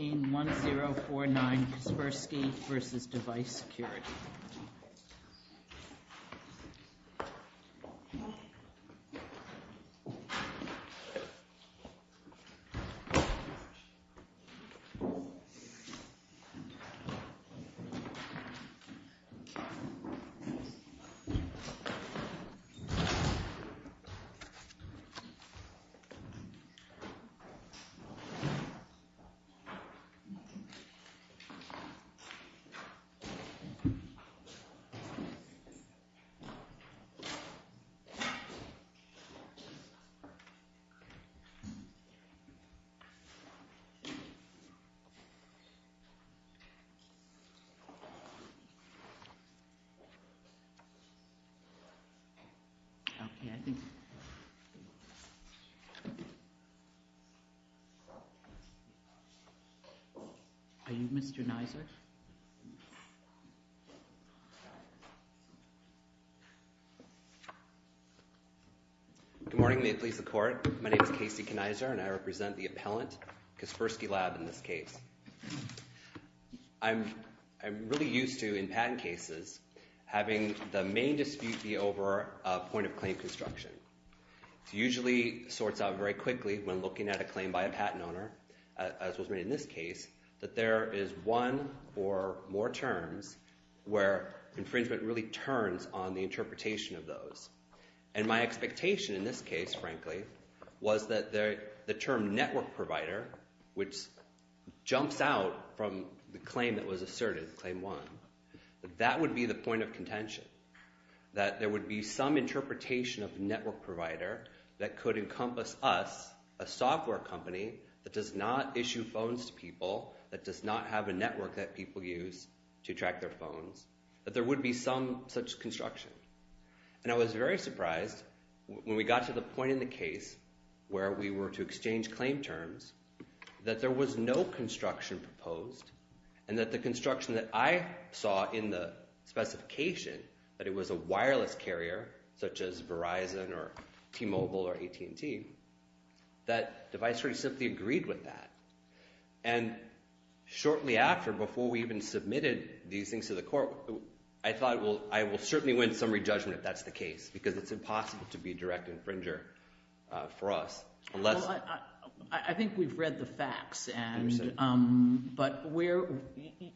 1049 Kaspersky v. Device Security. 1909 Kaspersky v. Device Security. Are you Mr. Knaizer? Good morning, may it please the court. My name is Casey Knaizer, and I represent the appellant, Kaspersky Lab, in this case. I'm really used to, in patent cases, having the main dispute be over a point of claim construction. It usually sorts out very quickly when looking at a claim by a patent owner, as was made in this case, that there is one or more terms where infringement really turns on the interpretation of those. And my expectation in this case, frankly, was that the term network provider, which jumps out from the claim that was asserted, Claim 1, that that would be the point of contention. That there would be some interpretation of network provider that could encompass us, a software company, that does not issue phones to people, that does not have a network that people use to track their phones, that there would be some such construction. And I was very surprised when we got to the point in the case where we were to exchange claim terms, that there was no construction proposed, and that the construction that I saw in the specification, that it was a wireless carrier, such as Verizon or T-Mobile or AT&T, that the viceroy simply agreed with that. And shortly after, before we even submitted these things to the court, I thought, well, I will certainly win summary judgment if that's the case, because it's impossible to be a direct infringer for us. Well, I think we've read the facts, but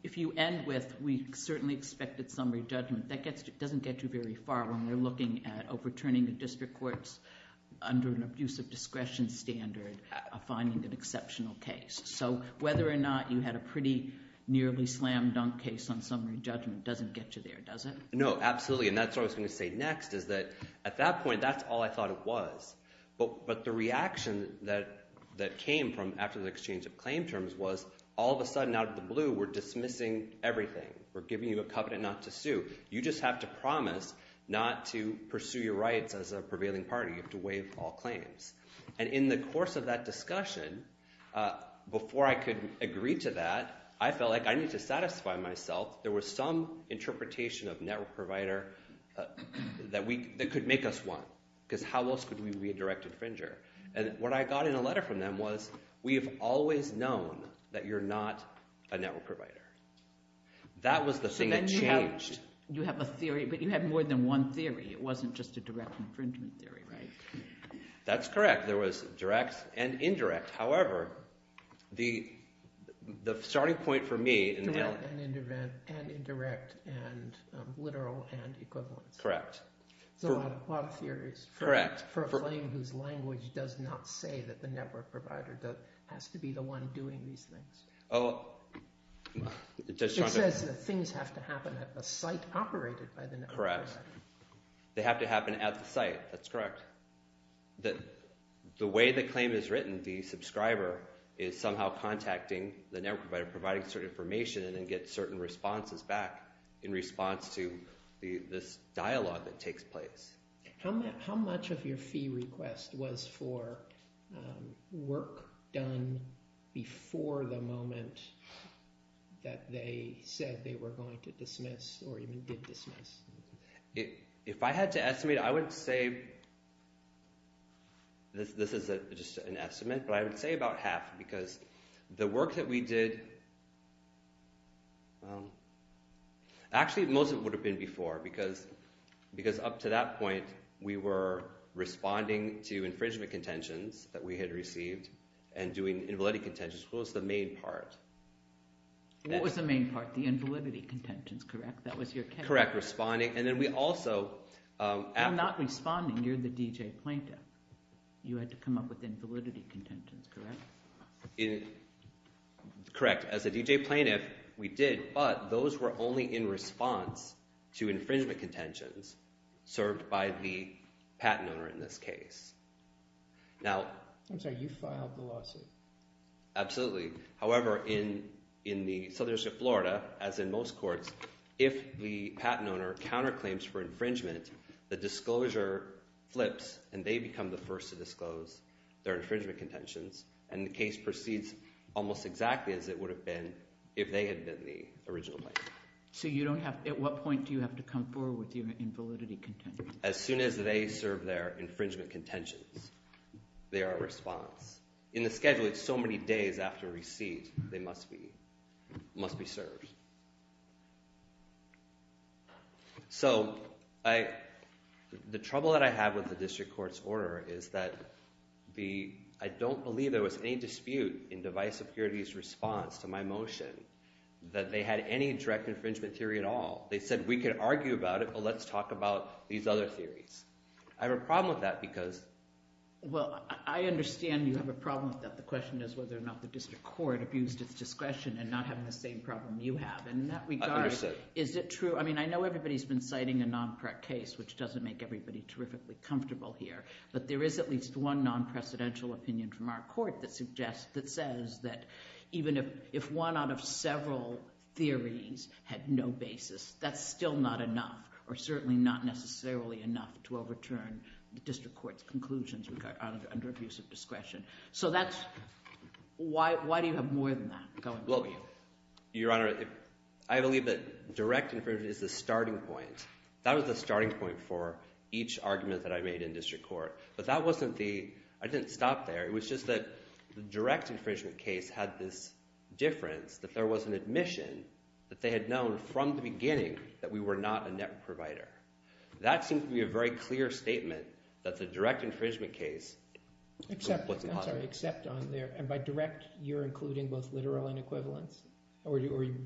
if you end with, we certainly expected summary judgment, that doesn't get you very far when you're looking at overturning the district courts under an abusive discretion standard finding an exceptional case. So whether or not you had a pretty nearly slam dunk case on summary judgment doesn't get you there, does it? No, absolutely. And that's what I was going to say next, is that at that point, that's all I thought it was. But the reaction that came from after the exchange of claim terms was, all of a sudden, out of the blue, we're dismissing everything. We're giving you a covenant not to sue. You just have to promise not to pursue your rights as a prevailing party. You have to waive all claims. And in the course of that discussion, before I could agree to that, I felt like I needed to satisfy myself. There was some interpretation of network provider that could make us one, because how else could we be a direct infringer? And what I got in a letter from them was, we have always known that you're not a network provider. That was the thing that changed. So then you have a theory, but you have more than one theory. It wasn't just a direct infringement theory, right? That's correct. There was direct and indirect. However, the starting point for me... Direct and indirect and literal and equivalent. Correct. There's a lot of theories for a claim whose language does not say that the network provider has to be the one doing these things. It says that things have to happen at the site operated by the network provider. They have to happen at the site. That's correct. The way the claim is written, the subscriber is somehow contacting the network provider, providing certain information and then get certain responses back in response to this dialogue that takes place. How much of your fee request was for work done before the moment that they said they were going to dismiss or even did dismiss? If I had to estimate, I would say... This is just an estimate, but I would say about half because the work that we did... Actually, most of it would have been before because up to that point we were responding to infringement contentions that we had received and doing invalidity contentions. What was the main part? What was the main part? The invalidity contentions, correct? Correct. Responding and then we also... You're not responding. You're the DJ plaintiff. You had to come up with invalidity contentions, correct? Correct. As a DJ plaintiff, we did, but those were only in response to infringement contentions served by the patent owner in this case. I'm sorry, you filed the lawsuit? Absolutely. However, in the Southern District of Florida, as in most courts, if the patent owner counterclaims for infringement, the disclosure flips and they become the first to disclose their infringement contentions and the case proceeds almost exactly as it would have been if they had been the original plaintiff. So you don't have... At what point do you have to come forward with your invalidity contentions? As soon as they serve their infringement contentions. They are a response. In the schedule, it's so many days after receipt they must be served. So, the trouble that I have with the District Court's order is that I don't believe there was any dispute in Device Security's response to my motion that they had any direct infringement theory at all. They said, we could argue about it, but let's talk about these other theories. I have a problem with that because... Well, I understand you have a problem with that. The question is whether or not the District Court abused its discretion and not having the same problem you have. In that regard... Is it true... I mean, I know everybody has been citing a non-correct case which doesn't make everybody terrifically comfortable here, but there is at least one non-precedential opinion from our court that suggests, that says that even if one out of several theories had no basis, that's still not enough or certainly not necessarily enough to overturn the District Court's conclusions under abuse of discretion. So that's... Why do you have more than that going for you? Your Honor, I believe that direct infringement is the starting point. That was the starting point for each argument that I made in District Court. But that wasn't the... I didn't stop there. It was just that the direct infringement case had this difference that there was an admission that they had known from the beginning that we were not a network provider. That seems to be a very clear statement that the direct infringement case was positive. I'm sorry, except on there... And by direct, you're including both literal and equivalence? Or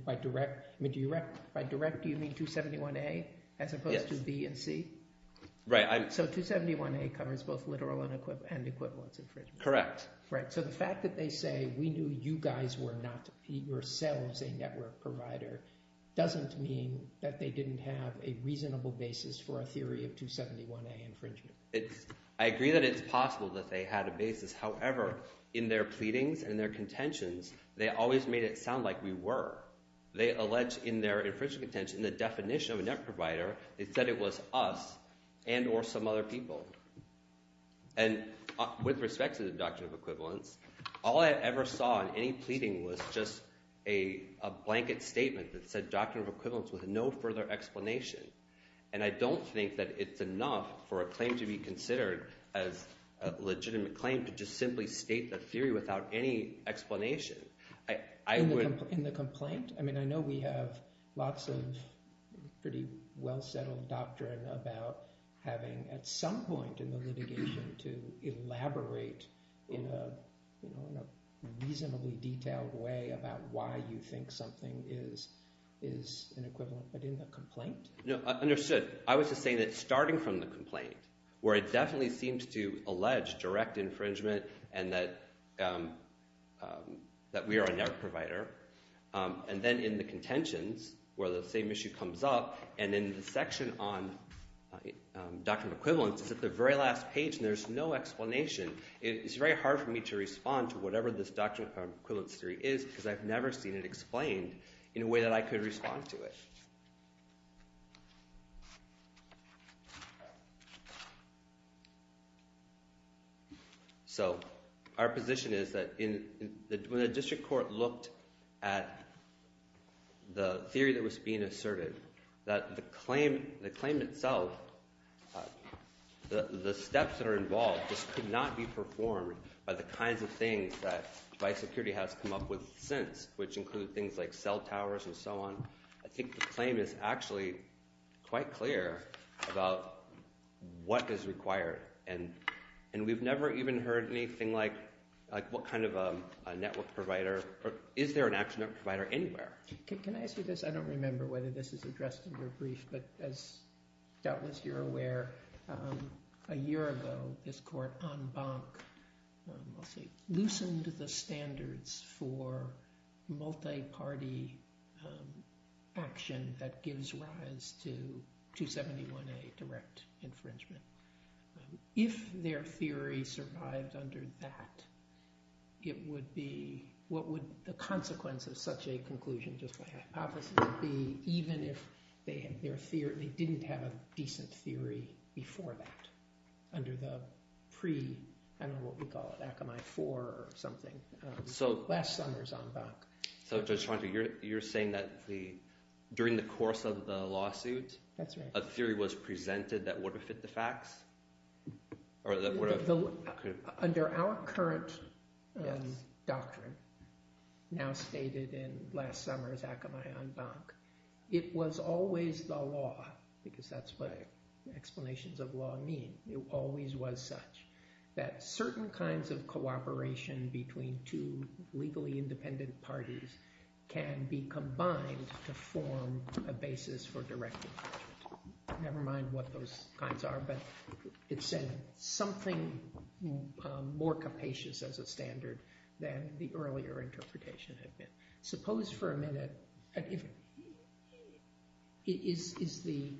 by direct... I mean, by direct, do you mean 271A as opposed to B and C? Yes. Right. So 271A covers both literal and equivalence infringement? Correct. Right. So the fact that they say we knew you guys were not yourselves a network provider doesn't mean that they didn't have a reasonable basis for a theory of 271A infringement. I agree that it's possible that they had a basis. However, in their pleadings and their contentions, they always made it sound like we were. They allege in their infringement contention the definition of a network provider is that it was us and or some other people. And with respect to the doctrine of equivalence, all I ever saw in any pleading was just a blanket statement that said doctrine of equivalence with no further explanation. And I don't think that it's enough for a claim to be considered as a legitimate claim to just simply state the theory without any explanation. In the complaint? I mean, I know we have lots of pretty well-settled doctrine about having at some point in the litigation to elaborate in a reasonably detailed way about why you think something is an equivalent but in the complaint? No, understood. I was just saying that starting from the complaint where it definitely seems to allege direct infringement and that that we are a network provider and then in the contentions where the same issue comes up and in the section on doctrine of equivalence is at the very last page and there's no explanation it's very hard for me to respond to whatever this doctrine of equivalence theory is because I've never seen it explained in a way that I could respond to it. So our position is that when the district court looked at the theory that was being asserted that the claim the claim itself the steps that are involved just could not be performed by the kinds of things that Vice Security has come up with since which include things like cell towers and so on I think the claim is actually quite clear about what is required and we've never even heard anything like what kind of a network provider is there an actual network provider anywhere? Can I ask you this? I don't remember whether this is addressed in your brief but as Doubtless you're aware a year ago this court on Bank loosened the standards for multi-party action that gives rise to 271A direct infringement if their theory survived under that it would be what would the consequence of such a conclusion just my hypothesis would be even if they didn't have a decent theory before that under the pre I don't know what we call it Akamai 4 or something last summer's on Bank so Judge Schwanter you're saying that during the course of the lawsuit a theory was presented that would have fit the facts or that would have under our current doctrine now stated in last summer's lawsuit what the explanations of law mean it always was such that certain kinds of cooperation between two legally independent parties can be combined to form a basis for direct infringement never mind what those kinds are but it's in something more capacious as a standard than the earlier interpretation had been suppose for a minute if it is the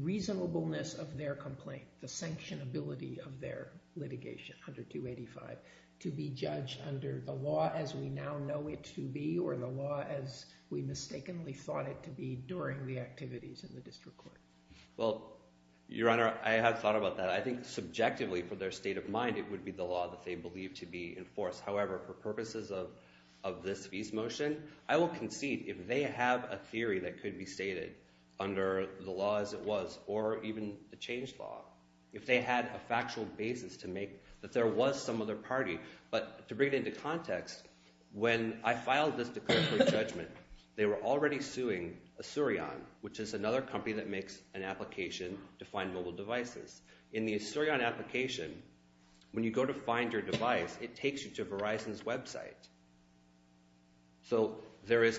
reasonableness of their complaint the sanctionability of their litigation under 285 to be judged under the law as we now know it to be or the law as we mistakenly thought it to be during the activities in the district court well your honor I have thought about that I think subjectively for their state of mind it would be the law that they believe to be enforced however for purposes of this motion I will concede if they have a theory that could be stated under the law as it was or even the change law if they had a factual basis to make that there was some other party but to bring it into context when I filed this judgment they were already suing Asurion which is another company that makes an application to find mobile devices in the Asurion application when you go to find your device it takes you to Verizon's website so there is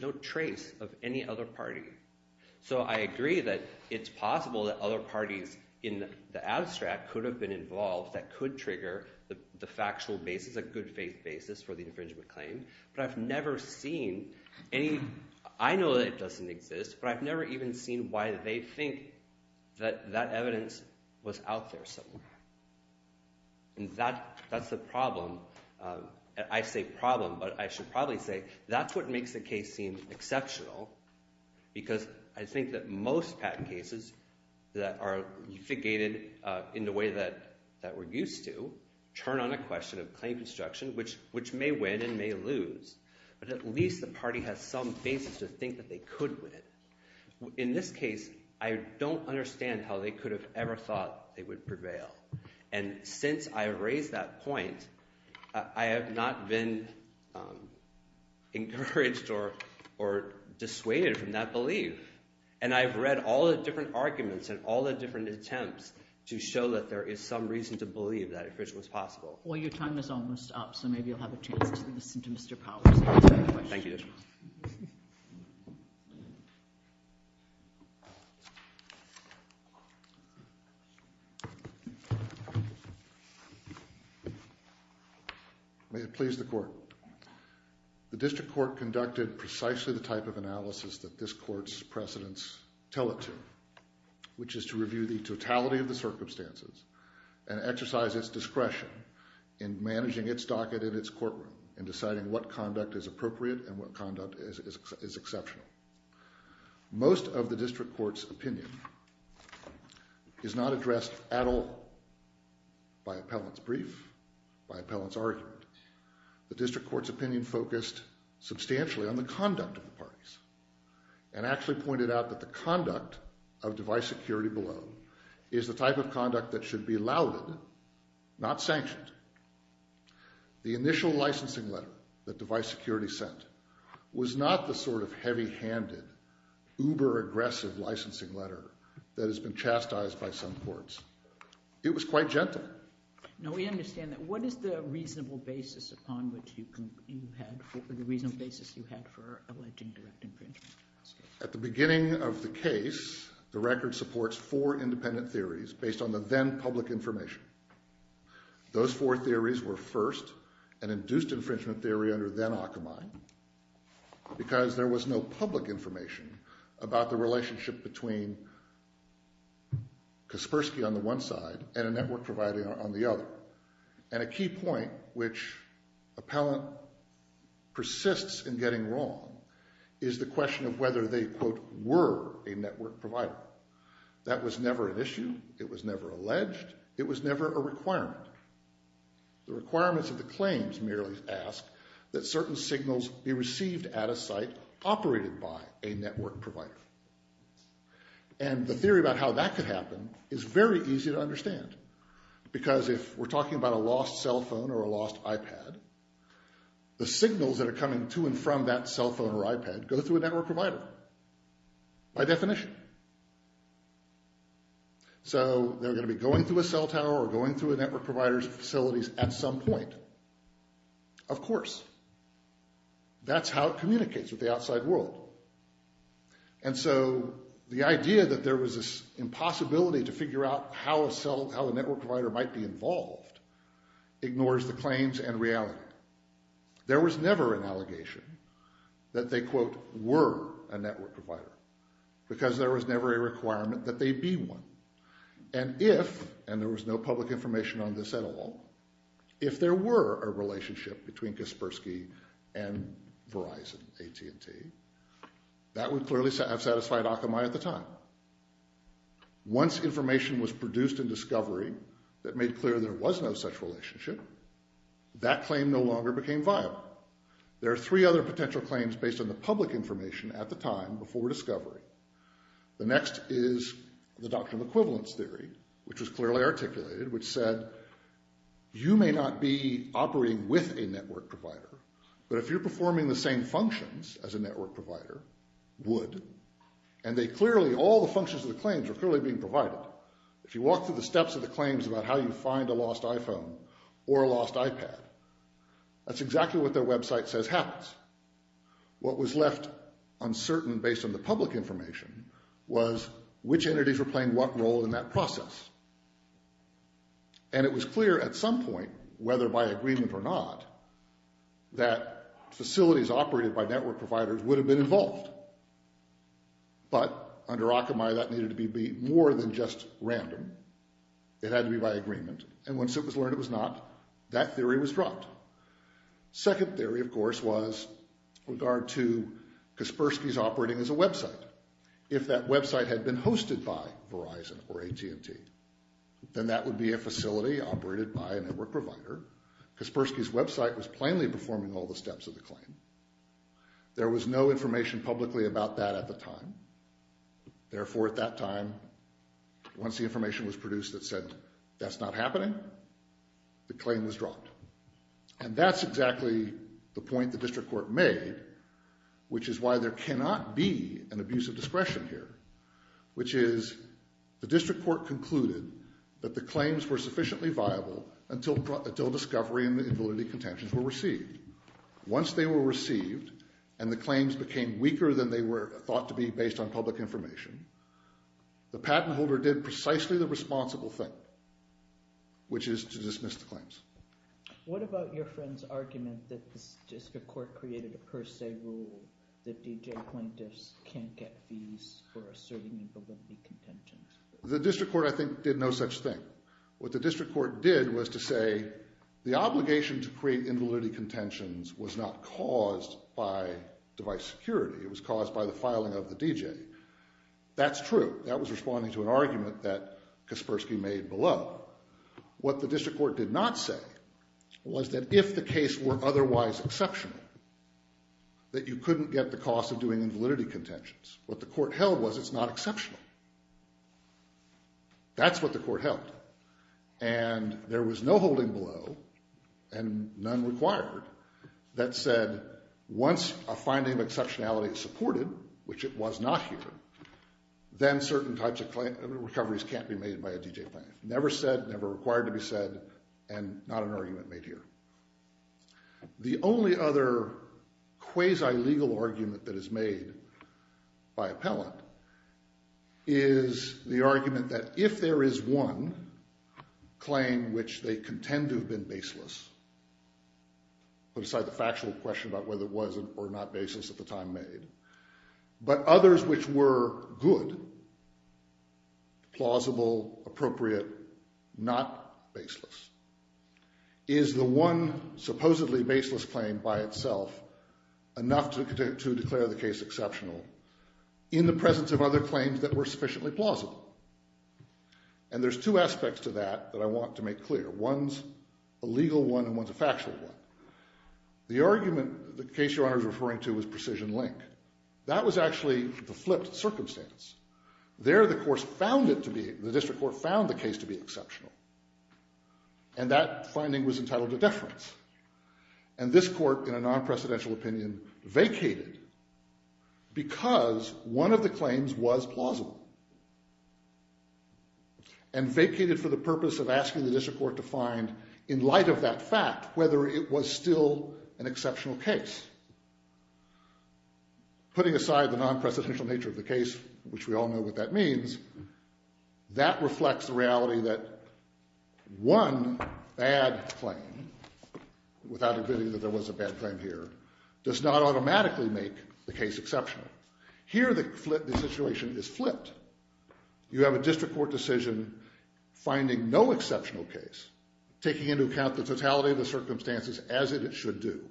no trace of any other party so I agree in the abstract could have made their own claim but I don't agree with the Asurion case but I have any evidence that could have been involved that could trigger the factual basis but I have never seen why they think that evidence was out there for someone. And that's the problem. I say problem but I should probably say that's what makes the case seem exceptional because I think that most patent cases that are litigated in the way that we're used to turn on a question of claim construction which may win and may lose but at least the party has some basis to think that they could win. In this case I don't understand how they could have ever thought they would prevail and since I raised that point I have not been encouraged or dissuaded from that belief and I've read all the different arguments and all the different questions that's the case that they could win. Thank you. May it please the court. The district court conducted precisely the type of analysis that this court's precedents tell it to which is to what conduct is appropriate and what conduct is exceptional. Most of the district court's opinion is not addressed at appellant's brief, by appellant's argument. The district court's opinion focused substantially on the conduct of the parties and actually pointed out that the conduct of device security below is the type of conduct that should be lauded, not sanctioned. The initial licensing letter that device security sent was not the sort of heavy handed uber aggressive licensing letter that has been chastised by some courts. It was quite gentle. No, we understand that. What is the reasonable basis upon which you had for alleging direct infringement? At the beginning of the case, the record supports four independent theories based on the then public information. Those four theories were the first and induced infringement theory under then Akamai because there was no public information about the relationship between Kaspersky on the one side and a network provider on the other. And a key point which appellant persists in getting wrong is the question of whether the requirements of the claims merely ask that certain signals be received at a site operated by a network provider. And the theory about how that could happen is very easy to understand because if we're talking about a lost cell phone or a lost iPad, the signals that are coming to and from that cell phone or iPad go through a network provider by definition. So they're going to be going through a cell tower or going through a network provider's facilities at some point. Of course. That's how it communicates with the outside world. And so the idea that there was this impossibility to figure out how a network provider might be involved ignores the claims and reality. There was never an allegation that they were a network provider because there was never a requirement that they be one. And if, and there was no public information on this at all, if there were a relationship between Kaspersky and Verizon, AT&T, that would clearly have satisfied Akamai at the time. Once information was produced in discovery that made clear there was no such relationship, that claim no longer became viable. There are three other potential claims based on the public information at the time before discovery. The next is the doctrine of equivalence theory, which was clearly articulated, which said you may not be operating with a network provider, but if you're performing the same functions as a network provider, would. And they clearly, all the functions of the claims are clearly being provided. If you were operating with a network provider, you was which entities were playing what role in that process. And it was clear at some point, whether by agreement or not, that if that website had been hosted by Verizon or AT&T, then that would be a facility operated by a network provider. Kaspersky's website was plainly performing all the steps of the claim. There was no information publicly about that at the time. Therefore, at that time, once the information was produced that said that's not happening, the claim was dropped. And that's exactly the point the District Court made, which is why there cannot be an abuse of discretion here, which is the District Court concluded that the claims were sufficiently viable until discovery and validity contentions were received. Once they were received and the claims became weaker than they were thought to be based on public information, the patent holder did precisely the responsible thing, which is to dismiss the claims. What about your friend's argument that the District Court created a per se rule that D.J. plaintiffs can't get fees for asserting invalidity contentions? The District Court, I think, did no such thing. What the District Court did was to say the obligation to create invalidity contentions was not caused by device security, it was caused by the filing of the D.J. patent. That's true. That was responding to an argument that Kaspersky made below. What the District Court did not say was that if the case were otherwise exceptional, that you couldn't get the cost of doing invalidity contentions. What the Court held was it's not exceptional. That's what the Court held. And there was no exception. If the finding of exceptionality supported, which it was not here, then certain types of claims can't be made by a D.J. patent. Never said, never required to be said, and not an argument made here. The only other quasi-legal argument that is made by appellant is the argument that if there is one claim which they contend to have been baseless, put aside the factual question about whether it was or was not baseless at the time made, but others which were good, plausible, appropriate, not baseless, is the one supposedly baseless claim by itself enough to declare the case exceptional in the presence of other claims that were sufficiently plausible. And there's two aspects to that that I want to make clear. One's a legal one and one's a factual one. The argument the case your honor is referring to was precision link. That was actually the flipped circumstance. There the court found it to be, the district court found the case to be exceptional. And that finding was entitled to and vacated for the purpose of asking the district court to find in light of that fact whether it was still an exceptional case. Putting aside the non-presidential nature of the case, which we all know what that means, that reflects the reality that one bad claim without admitting that there was a bad claim here does not automatically make the case exceptional. Here the situation is flipped. You have a district court decision finding no exceptional case, taking into account the totality of the circumstances as it should do.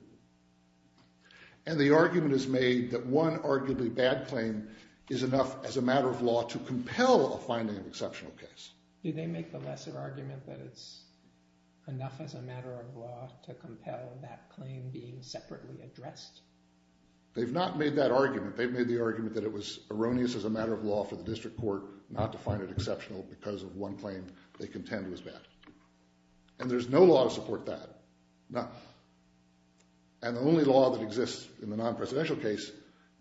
And the argument is made that one arguably bad claim is enough as a matter of law to compel a finding of exceptional case. Do they make the lesser argument that it's enough as a matter of law to compel that finding of case? No. And the only law that exists in the non-presidential case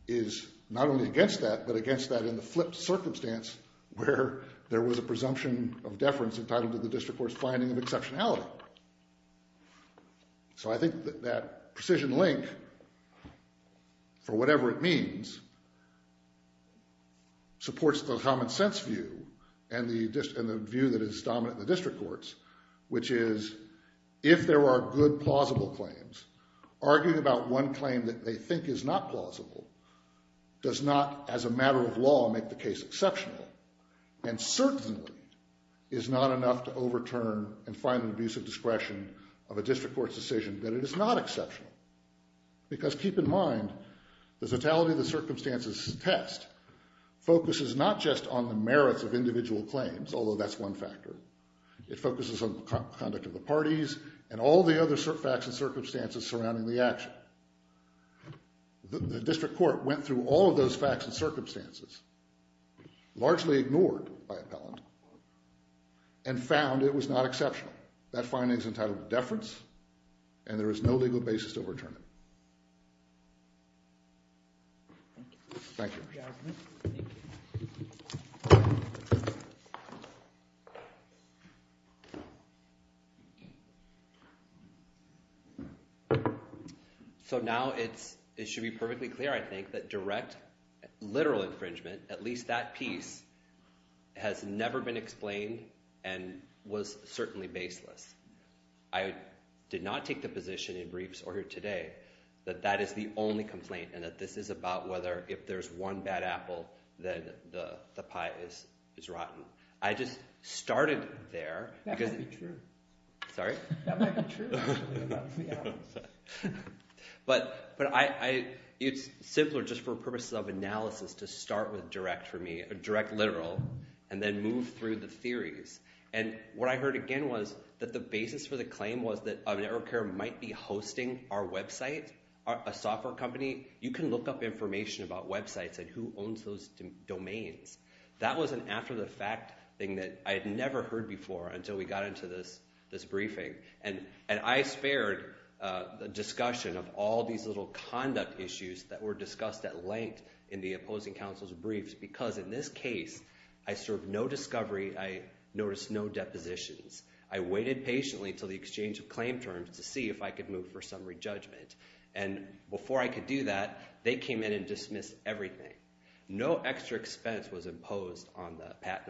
is not only against that but against that in the flipped circumstance where there was a presumption of deference entitled to the district court's finding of exceptionality. So I think that precision link for whatever it means supports the common sense view and the view that is dominant in the district courts which is if there are good plausible claims, arguing about one claim that they think is not plausible does not as a matter of law make the case exceptional and certainly is not enough to overturn and find an abuse of discretion of a district court's decision that it is not exceptional because keep in mind the totality of the circumstances test focuses not just on the merits of individual claims although that's one factor. It focuses on conduct of the parties and all the other facts and circumstances surrounding the action. The district court went through all of those facts and circumstances largely ignored by appellant and found it was not acceptable and there was no legal basis to overturn it. Thank you. So now it should be perfectly clear I think that direct literal never been explained and was certainly baseless. I did not take the position that the district court did not take the position that the only complaint and this is about whether if there is one bad apple then the pie is rotten. I just started there that might be true. It's simpler for purpose of analysis to start with direct for me, direct literal and then move through the theories and what I heard again was that the basis for the claim was that network care might be hosting our website, a software company, you can look up information about websites and who owns those domains. That was an after the fact thing that I had never heard before until we got into this briefing and I spared the discussion of all these little conduct issues that were discussed at length in the opposing counsel's briefs because in this case I served no discovery, I noticed no depositions. I waited patiently until the exchange of claim terms to see if I could move for summary judgment and before I could do that they came in and dismissed everything. No extra expense was imposed on me. I was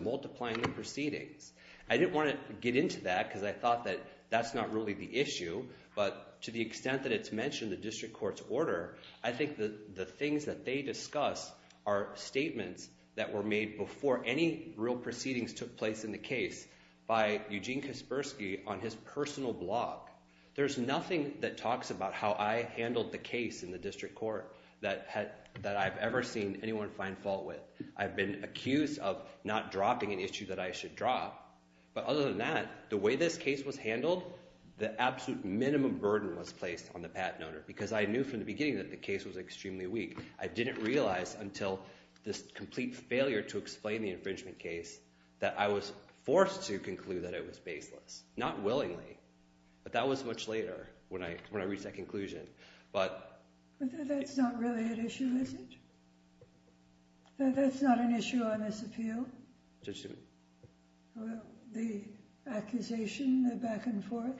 multiplying the proceedings. I didn't want to get into that because I thought that that's not really the issue but to the extent that it's mentioned in the district court's order, I think the things that they discuss are statements that were made before any real proceedings took place in the district court. There's nothing that talks about how I handled the case in the district court that I've ever seen anyone find fault with. I've been accused of not dropping an issue that I should drop but other than that the way this case was handled the absolute minimum burden was that I was forced to conclude that it was baseless. Not willingly but that was much later when I reached that conclusion. But... But that's not really an issue is it? That's not an issue on this appeal? The accusation the back and forth?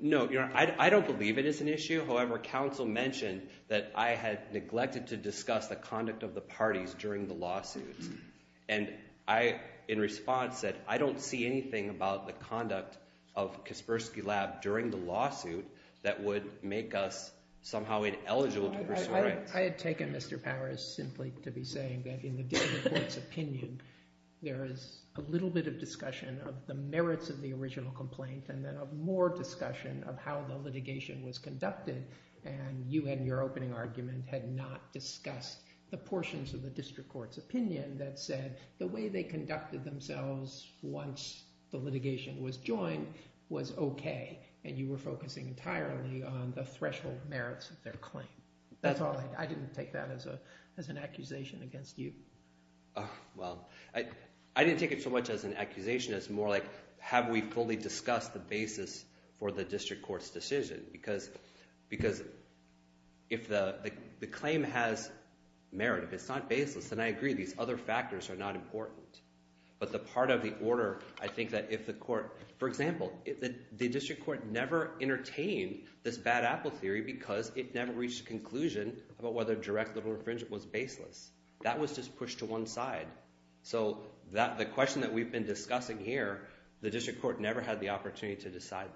No. I don't believe it is an issue. I don't see anything about the conduct of Kaspersky Lab during the lawsuit that would make us somehow ineligible to pursue rights. I had taken Mr. Powers simply to be saying that in the district court's opinion there is a little bit of discussion of the merits of the original complaint and then more discussion of how the litigation was conducted and you in your opening argument had not discussed the portions of the district court's opinion that said the way they conducted themselves once the litigation was joined was okay and you were focusing entirely on the threshold merits of their claim. That's all. I didn't take that as an accusation against you. Well, I didn't take it so much as an accusation as more like have we fully discussed the basis for the district court's decision because if the claim has merit, it's not baseless and I agree these other factors are not important but the part of the order, I think that if the court, for example, if the district court never entertained this bad apple theory because it never reached a conclusion about whether direct little infringement was baseless, that was just pushed to one side. The question we've been discussing here, the district court never had the opportunity to decide that.